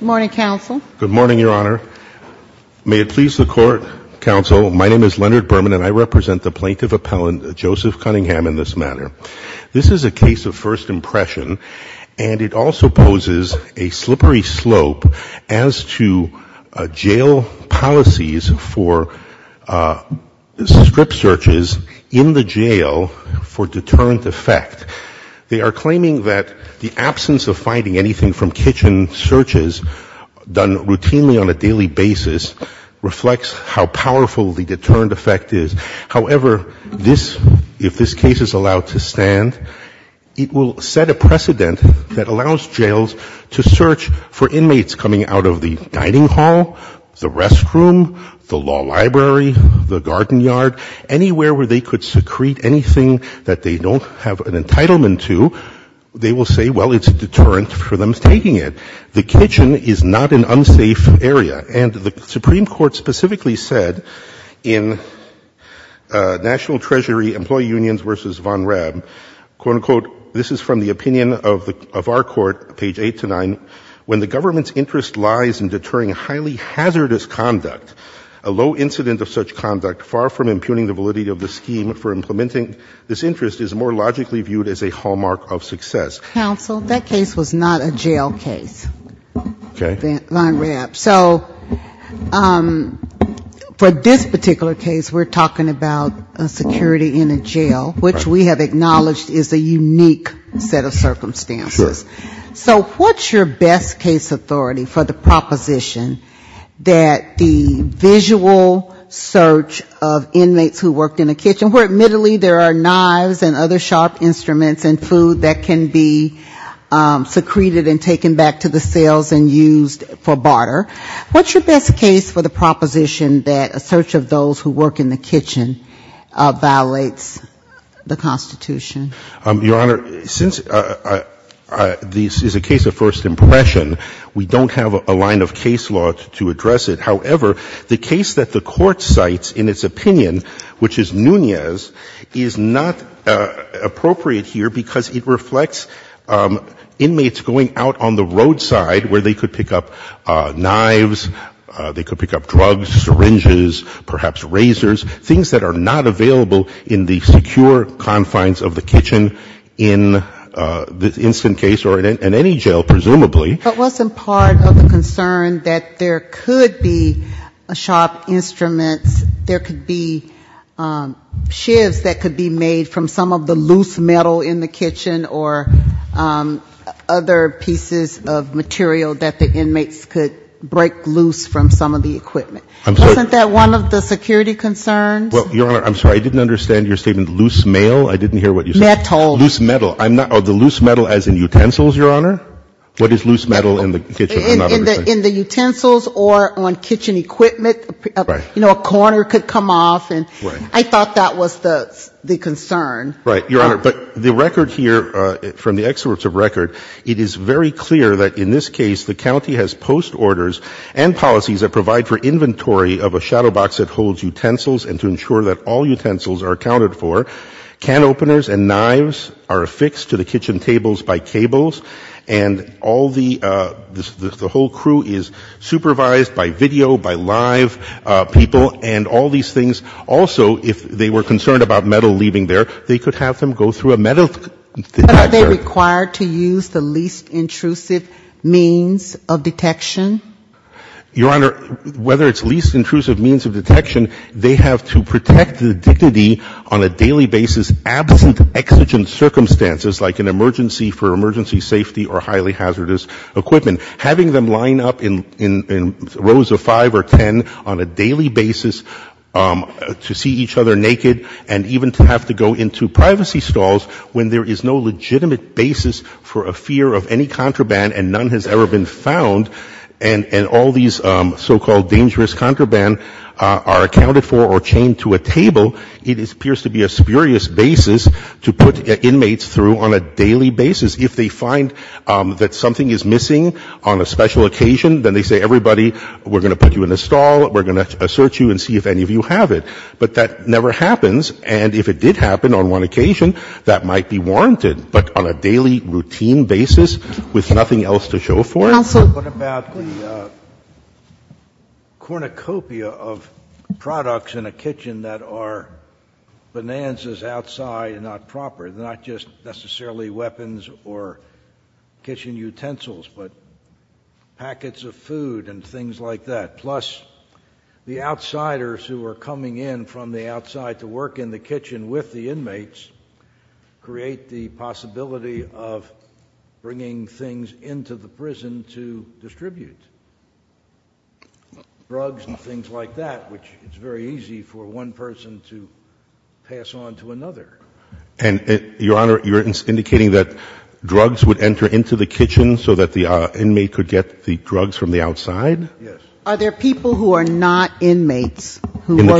Good morning, Your Honor. May it please the Court, Counsel, my name is Leonard Berman and I represent the plaintiff appellant, Joseph Cunningham, in this matter. This is a case of first impression and it also poses a slippery slope as to jail policies for strip searches in the jail for deterrent effect. They are claiming that the absence of finding anything from kitchen searches done routinely on a daily basis reflects how powerful the deterrent effect is. However, this, if this case is allowed to stand, it will set a precedent that allows jails to search for inmates coming out of the dining hall, the restroom, the law library, the garden yard, anywhere where they could secrete anything that they don't have an entitlement to, they will say, well, it's a deterrent for them taking it. The kitchen is not an unsafe area. And the Supreme Court specifically said in National Treasury Employee Unions v. Von Raab, quote-unquote, this is from the opinion of our Court, page 8-9, when the government's interest lies in deterring highly hazardous conduct, a low incident of such conduct far from impugning the validity of the scheme for implementing this interest is more logically viewed as a hallmark of success. Counsel, that case was not a jail case. Okay. Von Raab. So for this particular case, we're talking about a security in a jail, which we have acknowledged is a unique set of circumstances. Sure. So what's your best case authority for the proposition that the visual search of inmates who worked in a kitchen, where admittedly there are knives and other sharp instruments and food that can be secreted and taken back to the cells and used for barter, what's your best case for the proposition that a search of those who work in the kitchen violates the Constitution? Your Honor, since this is a case of first impression, we don't have a line of case law to address it. However, the case that the Court cites in its opinion, which is Nunez, is not appropriate here because it reflects inmates going out on the roadside where they could pick up knives, they could pick up drugs, syringes, perhaps razors, things that are not available in the secure confines of the kitchen in this instant case or in any jail, presumably. But wasn't part of the concern that there could be sharp instruments, there could be shivs that could be made from some of the loose metal in the kitchen or other pieces of material that the inmates could break loose from some of the equipment? I'm sorry. Isn't that one of the security concerns? Well, Your Honor, I'm sorry. I didn't understand your statement, loose mail. I didn't hear what you said. Metal. Loose metal. I'm not – the loose metal as in utensils, Your Honor? What is loose metal in the kitchen? I'm not understanding. In the utensils or on kitchen equipment. Right. You know, a corner could come off. Right. And I thought that was the concern. Right. Your Honor, but the record here from the excerpts of record, it is very clear that in this case, the county has post orders and policies that provide for inventory of a shadow box that holds utensils and to ensure that all utensils are accounted for. Can openers and knives are affixed to the kitchen tables by cables and all the – the whole crew is supervised by video, by live people and all these things. Also, if they were concerned about metal leaving there, they could have them go through a metal detector. But are they required to use the least intrusive means of detection? Your Honor, whether it's least intrusive means of detection, they have to protect the dignity on a daily basis absent exigent circumstances like an emergency for emergency safety or highly hazardous equipment. Having them line up in rows of five or ten on a daily basis to see each other naked and even to have to go into privacy stalls when there is no legitimate basis for a fear of any contraband and none has ever been found and all these so-called dangerous contraband are accounted for or chained to a table, it appears to be a spurious basis to put inmates through on a daily basis. If they find that something is missing on a special occasion, then they say, everybody, we're going to put you in a stall, we're going to search you and see if any of you have it. But that never happens. And if it did happen on one occasion, that might be warranted, but on a daily routine basis with nothing else to show for it. Counsel? What about the cornucopia of products in a kitchen that are bonanzas outside and not proper, not just necessarily weapons or kitchen utensils, but packets of food and things like that, plus the outsiders who are coming in from the outside to work in the kitchen with the inmates, create the possibility of bringing things into the prison to distribute drugs and things like that, which is very easy for one person to pass on to another. And, Your Honor, you're indicating that drugs would enter into the kitchen so that the inmate could get the drugs from the outside? Yes. Are there people who are not inmates who are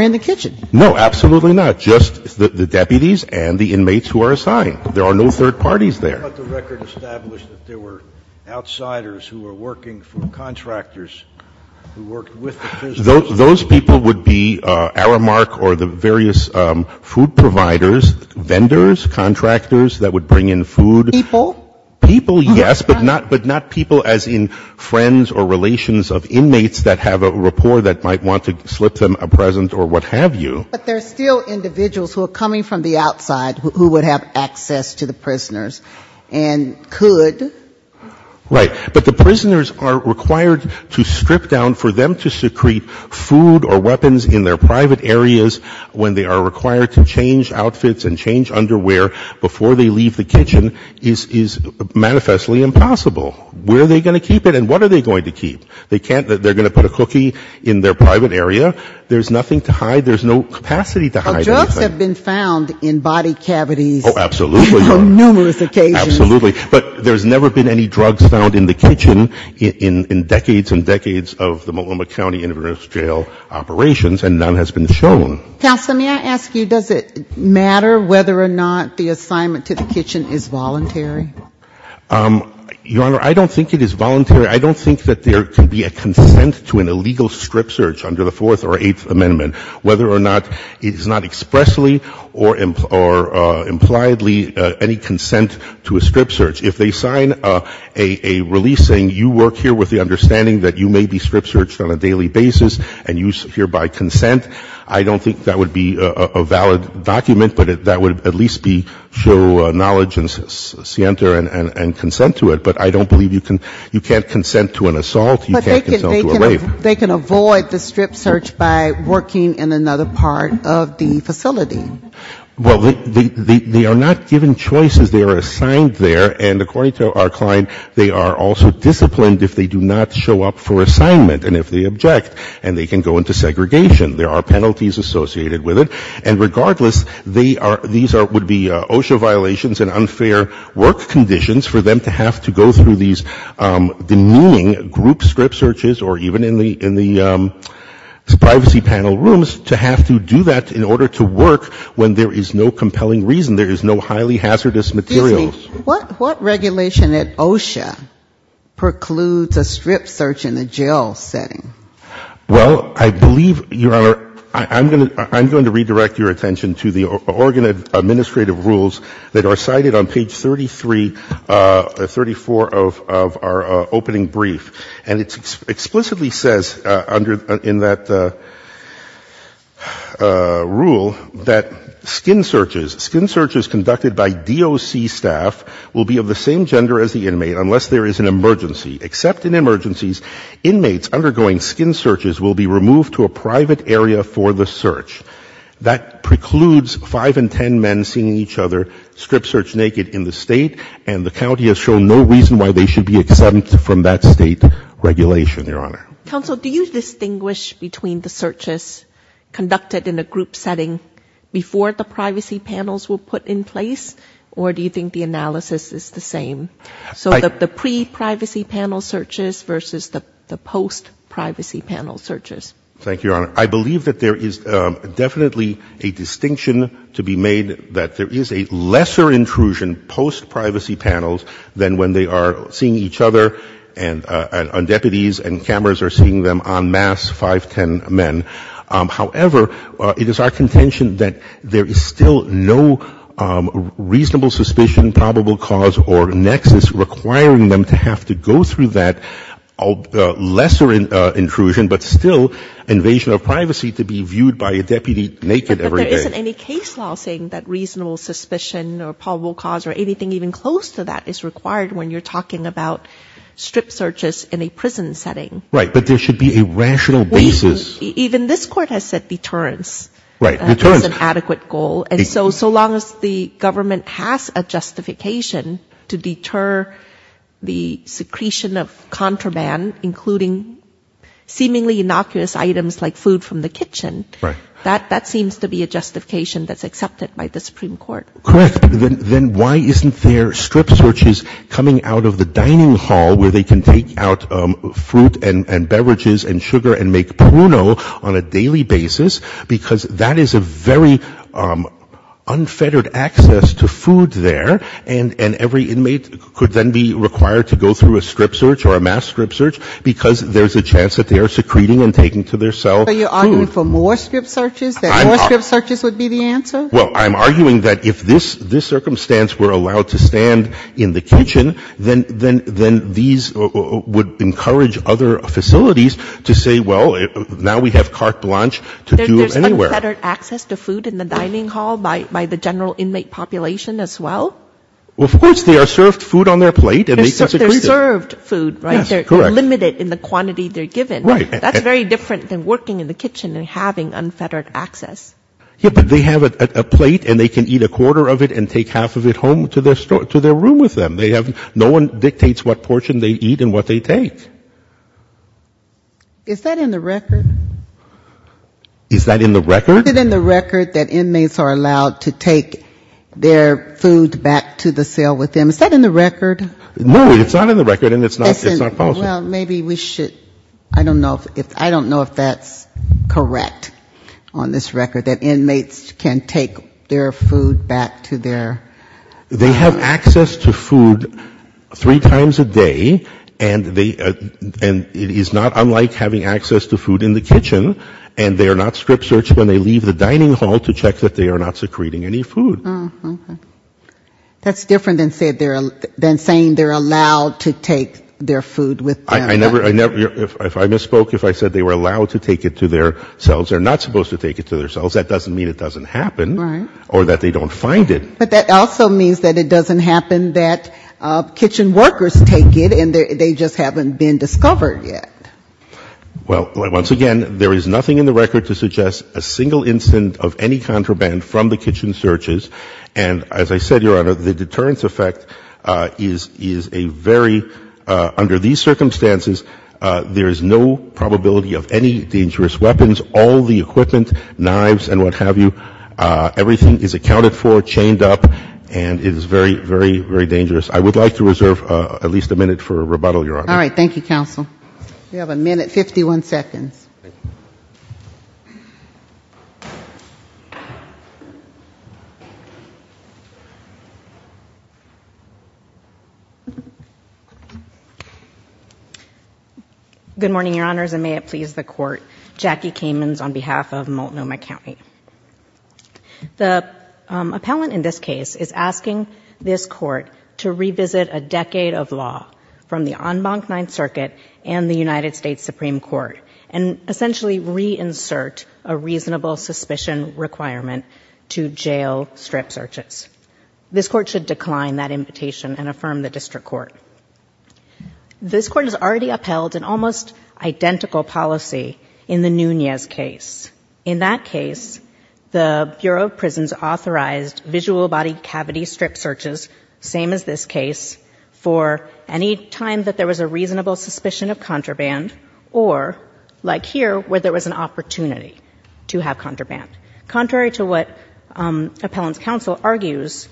in the kitchen? No, absolutely not. Just the deputies and the inmates who are assigned. There are no third parties there. But the record established that there were outsiders who were working for contractors who worked with the prisoners. Those people would be Aramark or the various food providers, vendors, contractors that would bring in food. People? People, yes, but not people as in friends or relations of inmates that have a rapport that might want to slip them a present or what have you. But there are still individuals who are coming from the outside who would have access to the prisoners and could? Right. But the prisoners are required to strip down for them to secrete food or weapons in their private areas when they are required to change outfits and change underwear before they leave the kitchen is manifestly impossible. Where are they going to keep it and what are they going to keep? They can't. They're going to put a cookie in their private area. There's nothing to hide. There's no capacity to hide anything. Drugs have been found in body cavities. Oh, absolutely. On numerous occasions. Absolutely. But there's never been any drugs found in the kitchen in decades and decades of the Multnomah County Inmate Jail operations and none has been shown. Counselor, may I ask you, does it matter whether or not the assignment to the kitchen is voluntary? Your Honor, I don't think it is voluntary. I don't think that there can be a consent to an illegal strip search under the Fourth or Eighth Amendment, whether or not it is not expressly or impliedly any consent to a strip search. If they sign a release saying you work here with the understanding that you may be strip searched on a daily basis and you secure by consent, I don't think that would be a valid document, but that would at least show knowledge and consent to it. But I don't believe you can't consent to an assault. You can't consent to a rape. But they can avoid the strip search by working in another part of the facility. Well, they are not given choices. They are assigned there and according to our client, they are also disciplined if they do not show up for assignment and if they object and they can go into segregation. There are penalties associated with it. And regardless, these would be OSHA violations and unfair work conditions for them to have to go through these demeaning group strip searches or even in the privacy panel rooms to have to do that in order to work when there is no compelling reason. There is no highly hazardous material. Excuse me. What regulation at OSHA precludes a strip search in a jail setting? Well, I believe, Your Honor, I'm going to redirect your attention to the Oregon Administrative Rules that are cited on page 33, 34 of our opening brief. And it explicitly says in that rule that skin searches, skin searches conducted by DOC staff will be of the same gender as the inmate unless there is an emergency. Except in emergencies, inmates undergoing skin searches will be removed to a private area for the search. That precludes five in ten men seeing each other strip search naked in the state and the county has shown no reason why they should be exempt from that state regulation, Your Honor. Counsel, do you distinguish between the searches conducted in a group setting before the privacy panels were put in place or do you think the analysis is the same? So the pre-privacy panel searches versus the post-privacy panel searches. Thank you, Your Honor. I believe that there is definitely a distinction to be made that there is a lesser intrusion post-privacy panels than when they are seeing each other and on deputies and cameras are seeing them en masse, five, ten men. However, it is our contention that there is still no reasonable suspicion, probable cause, or nexus requiring them to have to go through that lesser intrusion, but still invasion of privacy to be viewed by a deputy naked every day. But there isn't any case law saying that reasonable suspicion or probable cause or anything even close to that is required when you're talking about strip searches in a prison setting. Right, but there should be a rational basis. Even this Court has said deterrence is an adequate goal. So long as the government has a justification to deter the secretion of contraband, including seemingly innocuous items like food from the kitchen, that seems to be a justification that's accepted by the Supreme Court. Correct. Then why isn't there strip searches coming out of the dining hall where they can take out fruit and beverages and sugar and make pruno on a daily basis because that is a very unfettered access to food there and every inmate could then be required to go through a strip search or a mass strip search because there's a chance that they are secreting and taking to their cell food. So you're arguing for more strip searches, that more strip searches would be the answer? Well, I'm arguing that if this circumstance were allowed to stand in the kitchen, then these would encourage other facilities to say, well, now we have carte blanche to do anywhere. There's unfettered access to food in the dining hall by the general inmate population as well? Well, of course they are served food on their plate and they can secrete it. They're served food, right? Yes, correct. They're limited in the quantity they're given. Right. That's very different than working in the kitchen and having unfettered access. Yeah, but they have a plate and they can eat a quarter of it and take half of it home to their room with them. No one dictates what portion they eat and what they take. Is that in the record? Is that in the record? Is it in the record that inmates are allowed to take their food back to the cell with them? Is that in the record? No, it's not in the record and it's not false. Well, maybe we should, I don't know if that's correct on this record, that inmates can take their food back to their... They have access to food three times a day and it is not unlike having access to food in the kitchen and they are not strip searched when they leave the dining hall to check that they are not secreting any food. That's different than saying they're allowed to take their food with them. I never, if I misspoke, if I said they were allowed to take it to their cells, they're not supposed to take it to their cells. That doesn't mean it doesn't happen or that they don't find it. But that also means that it doesn't happen that kitchen workers take it and they just haven't been discovered yet. Well, once again, there is nothing in the record to suggest a single incident of any contraband from the kitchen searches and as I said, Your Honor, the deterrence effect is a very, under these circumstances, there is no probability of any dangerous weapons, all the equipment, knives and what have you, everything is accounted for, chained up and it is very, very, very dangerous. I would like to reserve at least a minute for rebuttal, Your Honor. All right, thank you, counsel. You have a minute, 51 seconds. Good morning, Your Honors, and may it please the Court. Jackie Kamens on behalf of Multnomah County. The appellant in this case is asking this Court to revisit a decade of law from the en banc Ninth Circuit and the United States Supreme Court and essentially reinsert a reasonable suspicion requirement to jail strip searches. This Court should decline that invitation and affirm the District Court. This Court has already upheld an almost identical policy in the Nunez case. In that case, the Bureau of Prisons authorized visual body cavity strip searches, same as this case, for any time that there was a reasonable suspicion of contraband or, like here, where there was an opportunity to have contraband. Contrary to what appellant's counsel argues,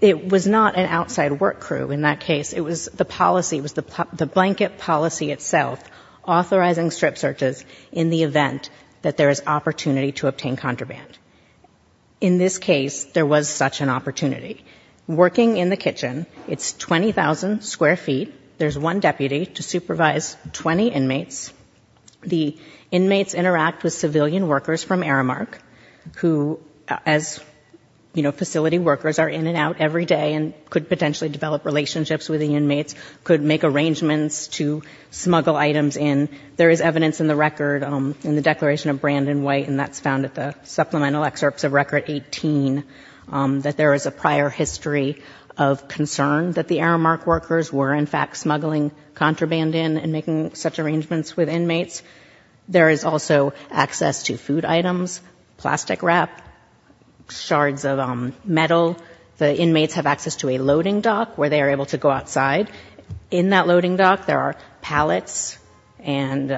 it was not an outside work crew in that case. It was the policy, it was the blanket policy itself, authorizing strip searches in the event that there is opportunity to obtain contraband. In this case, there was such an opportunity. Working in the kitchen, it's 20,000 square feet. There's one deputy to supervise 20 inmates. The inmates interact with civilian workers from Aramark who, as, you know, facility workers, are in and out every day and could potentially develop relationships with the inmates, could make arrangements to smuggle items in. There is evidence in the record, in the Declaration of Brandon White, and that's found at the supplemental excerpts of Record 18, that there is a prior history of concern that the Aramark workers were, in fact, smuggling contraband in and making such arrangements with inmates. There is also access to food items, plastic wrap, shards of metal. The inmates have access to a loading dock where they are able to go outside. In that loading dock, there are pallets and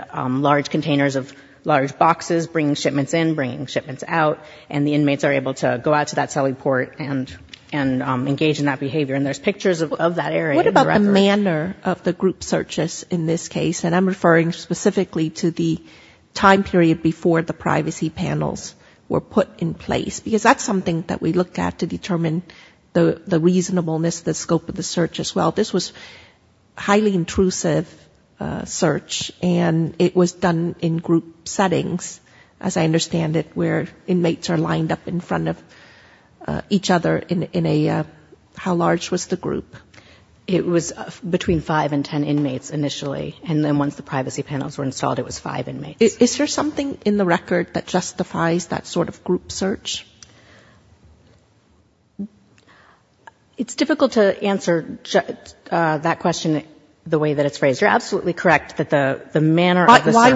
large containers of large boxes, bringing shipments in, bringing shipments out, and the inmates are able to go out to that celly port and engage in that behavior, and there's pictures of that area in the record. What about the manner of the group searches in this case? And I'm referring specifically to the time period before the privacy panels were put in place because that's something that we looked at to determine the reasonableness, the scope of the search as well. This was a highly intrusive search and it was done in group settings, as I understand it, where inmates are lined up in front of each other in a... How large was the group? It was between five and ten inmates initially, and then once the privacy panels were installed, it was five inmates. Is there something in the record that justifies that sort of group search? It's difficult to answer that question the way that it's phrased. You're absolutely correct that the manner of the search...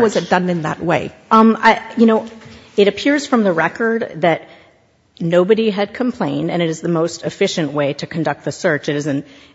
It appears from the record that nobody had complained and it is the most efficient way to conduct the search. It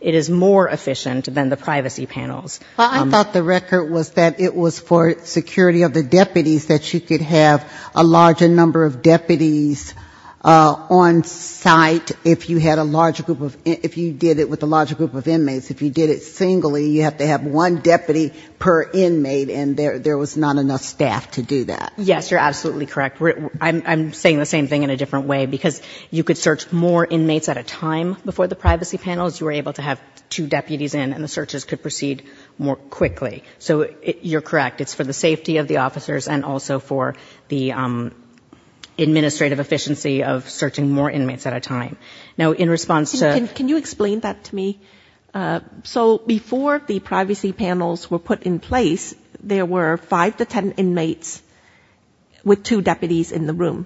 is more efficient than the privacy panels. Well, I thought the record was that it was for security of the deputies that you could have a larger number of deputies on site if you did it with a larger group of inmates. If you did it singly, you have to have one deputy per inmate and there was not enough staff to do that. Yes, you're absolutely correct. I'm saying the same thing in a different way, because you could search more inmates at a time before the privacy panels. You were able to have two deputies in and the searches could proceed more quickly. So you're correct. It's for the safety of the officers and also for the administrative efficiency of searching more inmates at a time. Now, in response to... Can you explain that to me? So before the privacy panels were put in place, there were five to ten inmates with two deputies in the room,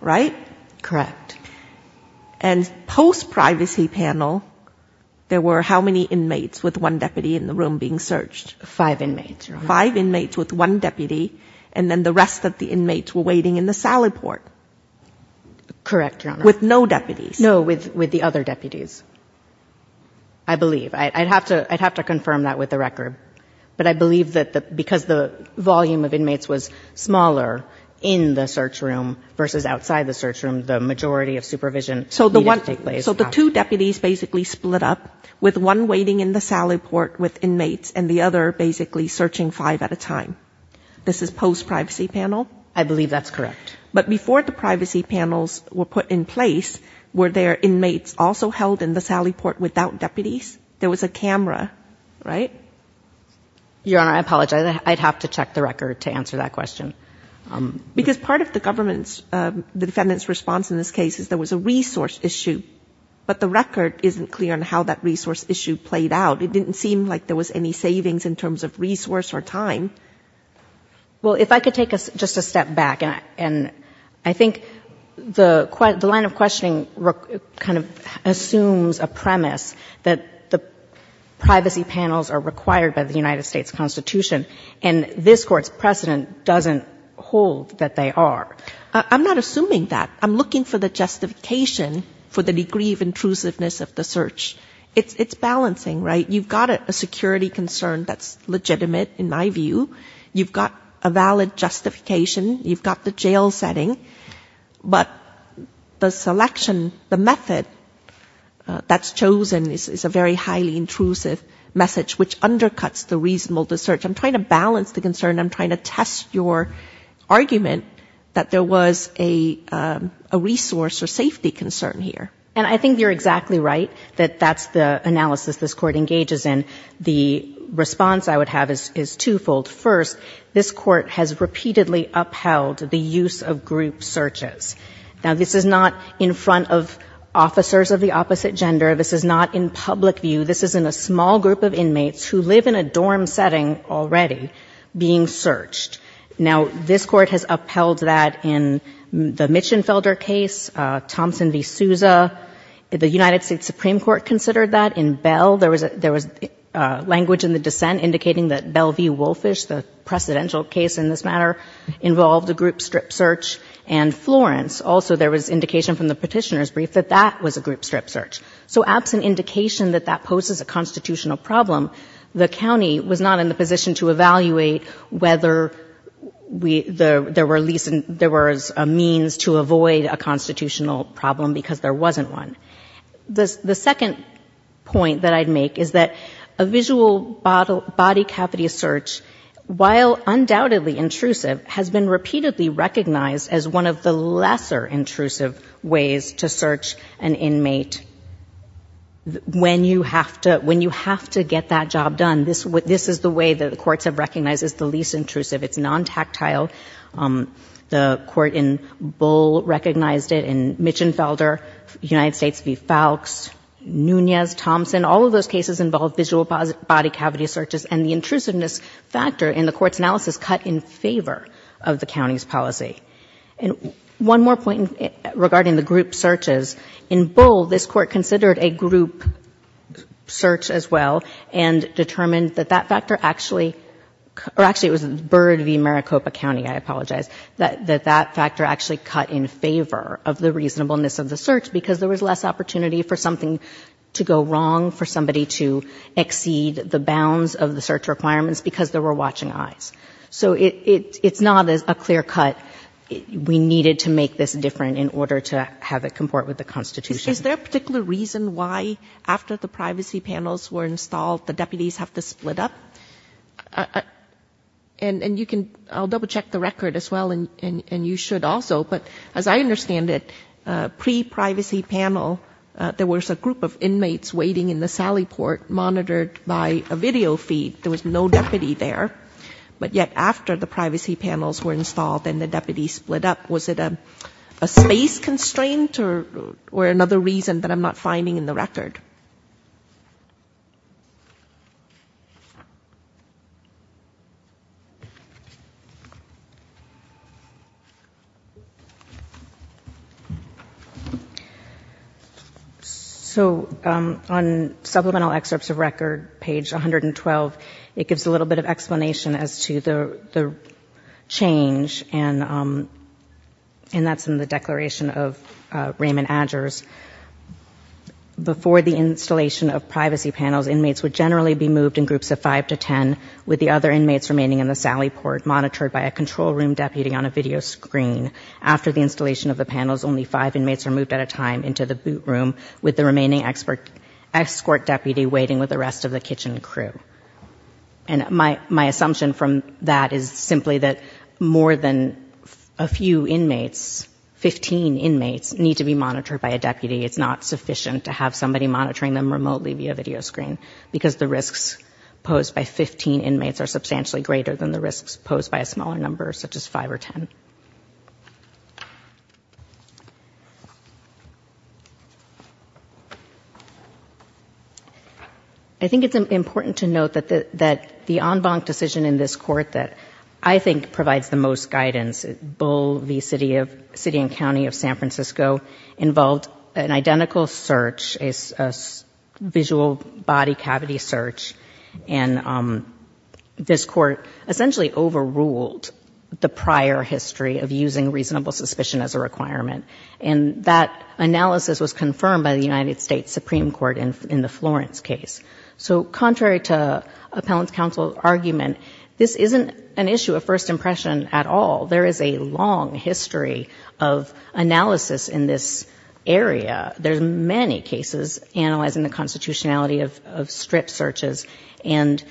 right? Correct. And post-privacy panel, there were how many inmates with one deputy in the room being searched? Five inmates, Your Honor. Five inmates with one deputy and then the rest of the inmates were waiting in the salad port. Correct, Your Honor. With no deputies. No, with the other deputies, I believe. I'd have to confirm that with the record. But I believe that because the volume of inmates was smaller in the search room versus outside the search room, the majority of supervision needed to take place. So the two deputies basically split up with one waiting in the salad port with inmates and the other basically searching five at a time. This is post-privacy panel? I believe that's correct. But before the privacy panels were put in place, were there inmates also held in the salad port without deputies? There was a camera, right? Your Honor, I apologize. I'd have to check the record to answer that question. Because part of the defendant's response in this case is there was a resource issue, but the record isn't clear on how that resource issue played out. It didn't seem like there was any savings in terms of resource or time. Well, if I could take just a step back. And I think the line of questioning kind of assumes a premise that the privacy panels are required by the United States Constitution and this Court's precedent doesn't hold that they are. I'm not assuming that. I'm looking for the justification for the degree of intrusiveness of the search. It's balancing, right? You've got a security concern that's legitimate, in my view. You've got a valid justification. You've got the jail setting. But the selection, the method that's chosen is a very highly intrusive message, which undercuts the reasonable search. I'm trying to balance the concern. I'm trying to test your argument that there was a resource or safety concern here. And I think you're exactly right that that's the analysis this Court engages in. The response I would have is twofold. First, this Court has repeatedly upheld the use of group searches. Now, this is not in front of officers of the opposite gender. This is not in public view. This is in a small group of inmates who live in a dorm setting already being searched. Now, this Court has upheld that in the Mitchenfelder case, Thompson v. Souza. The United States Supreme Court considered that. In Bell, there was language in the dissent indicating that Bell v. Wolfish, the precedential case in this matter, involved a group strip search. And Florence, also there was indication from the petitioner's brief that that was a group strip search. So absent indication that that poses a constitutional problem, the county was not in the position to evaluate whether there was a means to avoid a constitutional problem because there wasn't one. The second point that I'd make is that a visual body cavity search, while undoubtedly intrusive, has been repeatedly recognized as one of the lesser intrusive ways to search an inmate. When you have to get that job done, this is the way that the courts have recognized as the least intrusive. It's non-tactile. The court in Bull recognized it, in Mitchenfelder, United States v. Falks, Nunez, Thompson, all of those cases involved visual body cavity searches and the intrusiveness factor in the court's analysis cut in favor of the county's policy. And one more point regarding the group searches. In Bull, this court considered a group search as well and determined that that factor actually, or actually it was Bird v. Maricopa County, I apologize, that that factor actually cut in favor of the reasonableness of the search because there was less opportunity for something to go wrong, for somebody to exceed the bounds of the search requirements because there were watching eyes. So it's not a clear cut. We needed to make this different in order to have it comport with the Constitution. Is there a particular reason why, after the privacy panels were installed, the deputies have to split up? And you can, I'll double check the record as well, and you should also, but as I understand it, pre-privacy panel, there was a group of inmates waiting in the sally port monitored by a video feed. There was no deputy there, but yet after the privacy panels were installed and the deputies split up, was it a space constraint or another reason that I'm not finding in the record? So on supplemental excerpts of record, page 112, it gives a little bit of explanation as to the change, and that's in the declaration of Raymond Adger's. Before the installation of privacy panels, inmates would generally be moved in groups of five to ten, with the other inmates remaining in the sally port, monitored by a control room deputy on a video screen. After the installation of the panels, only five inmates are moved at a time into the boot room, with the remaining escort deputy waiting with the rest of the kitchen crew. And my assumption from that is simply that more than a few inmates, 15 inmates, need to be monitored by a deputy. It's not sufficient to have somebody monitoring them remotely via video screen, because the risks posed by 15 inmates are substantially greater than the risks posed by a smaller number, such as five or ten. I think it's important to note that the en banc decision in this court that I think provides the most guidance, Bull v. City and County of San Francisco, involved an identical search, a visual body cavity search, and this court essentially overruled the prior history of using reasonable suspicion as a requirement. And that analysis was confirmed by the United States Supreme Court in the Florence case. So contrary to appellant's counsel argument, this isn't an issue of first impression at all. There is a long history of analysis in this area. There's many cases analyzing the constitutionality of strip searches, and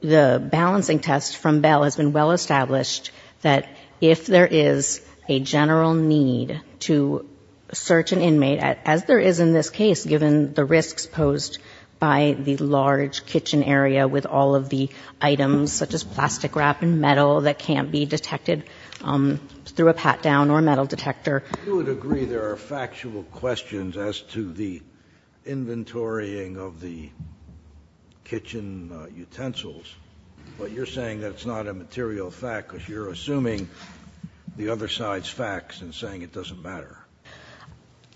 the balancing test from Bell has been well established that if there is a general need to search an inmate, as there is in this case given the risks posed by the large kitchen area with all of the items, such as plastic wrap and metal that can't be detected through a pat-down or metal detector. You would agree there are factual questions as to the inventorying of the kitchen utensils, but you're saying that it's not a material fact because you're assuming the other side's facts and saying it doesn't matter.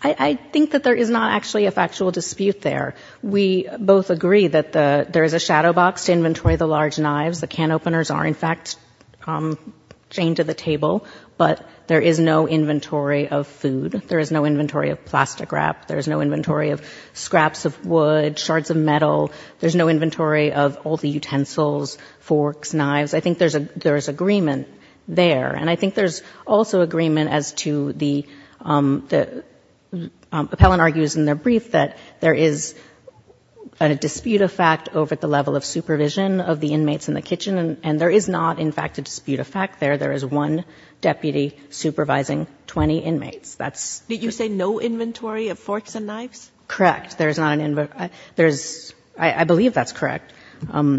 I think that there is not actually a factual dispute there. We both agree that there is a shadow box to inventory the large knives. The can openers are in fact chained to the table, but there is no inventory of food. There is no inventory of plastic wrap. There is no inventory of scraps of wood, shards of metal. There's no inventory of all the utensils, forks, knives. I think there's agreement there. And I think there's also agreement as to the... Appellant argues in their brief that there is a dispute of fact over the level of supervision of the inmates in the kitchen, and there is not in fact a dispute of fact there. There is one deputy supervising 20 inmates. Did you say no inventory of forks and knives? Correct. I believe that's correct. So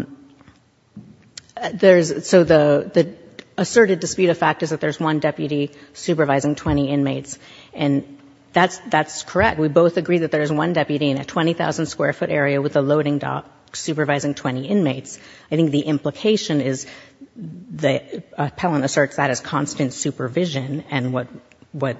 the asserted dispute of fact is that there's one deputy supervising 20 inmates, and that's correct. We both agree that there's one deputy in a 20,000-square-foot area with a loading dock supervising 20 inmates. I think the implication is... Appellant asserts that as constant supervision, and what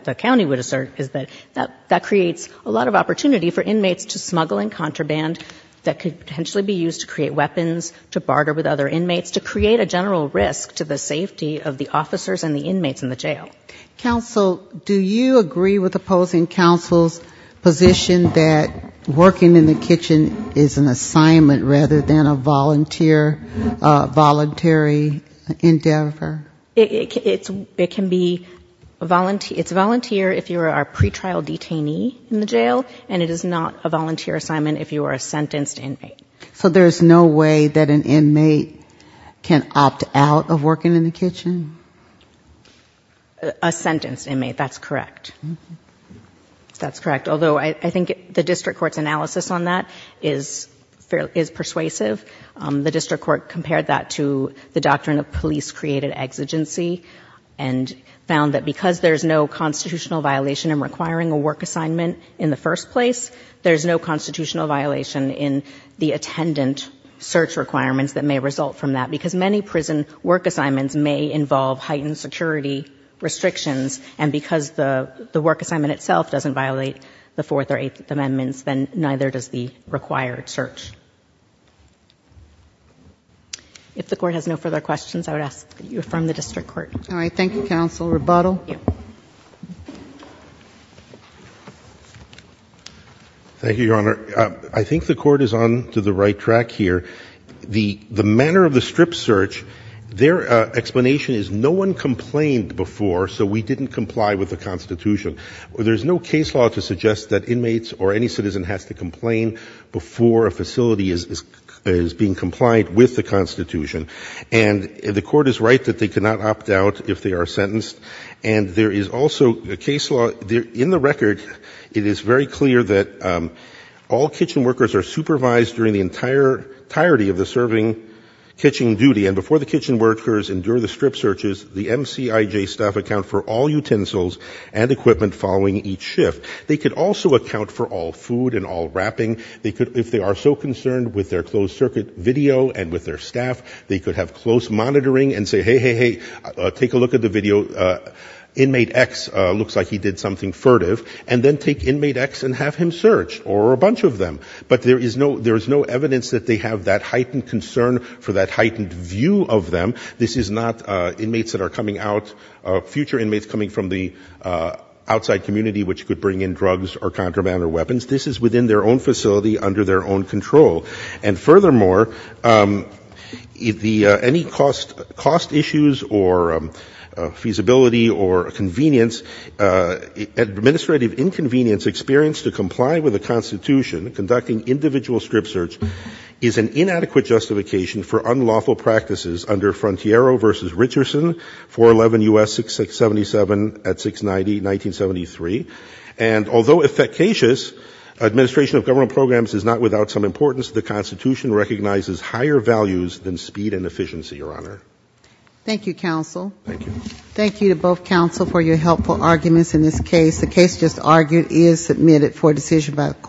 the county would assert is that that creates a lot of opportunity for inmates to smuggle in contraband that could potentially be used to create weapons, to barter with other inmates, to create a general risk to the safety of the officers and the inmates in the jail. Counsel, do you agree with opposing counsel's position that working in the kitchen is an assignment rather than a voluntary endeavor? It can be... It's a volunteer if you are a pretrial detainee in the jail, and it is not a volunteer assignment if you are a sentenced inmate. So there's no way that an inmate can opt out of working in the kitchen? A sentenced inmate, that's correct. That's correct. Although I think the district court's analysis on that is persuasive. The district court compared that to the doctrine of police-created exigency and found that because there's no constitutional violation in requiring a work assignment in the first place, there's no constitutional violation in the attendant search requirements that may result from that because many prison work assignments may involve heightened security restrictions, and because the work assignment itself doesn't violate the Fourth or Eighth Amendments, then neither does the required search. If the Court has no further questions, I would ask that you affirm the district court. All right. Thank you, Counsel. Rebuttal? Thank you, Your Honor. I think the Court is on to the right track here. The manner of the strip search, their explanation is no one complained before, so we didn't comply with the Constitution. There's no case law to suggest that inmates or any citizen has to complain before a facility is being compliant with the Constitution, and the Court is right that they cannot opt out if they are sentenced, and there is also a case law. In the record, it is very clear that all kitchen workers are supervised during the entirety of the serving kitchen duty, and before the kitchen workers endure the strip searches, the MCIJ staff account for all utensils and equipment following each shift. They could also account for all food and all wrapping. If they are so concerned with their closed-circuit video and with their staff, they could have close monitoring and say, hey, hey, hey, take a look at the video. Inmate X looks like he did something furtive, and then take Inmate X and have him searched, or a bunch of them. But there is no evidence that they have that heightened concern for that heightened view of them. This is not inmates that are coming out, future inmates coming from the outside community which could bring in drugs or contraband or weapons. This is within their own facility under their own control. And furthermore, any cost issues or feasibility or convenience, administrative inconvenience experienced to comply with the Constitution conducting individual strip searches is an inadequate justification for unlawful practices under Frontiero v. Richardson, 411 U.S. 677 at 690, 1973. And although efficacious, administration of government programs is not without some importance. The Constitution recognizes higher values than speed and efficiency, Your Honor. Thank you, counsel. Thank you. Thank you to both counsel for your helpful arguments in this case. The case just argued is submitted for decision by the court.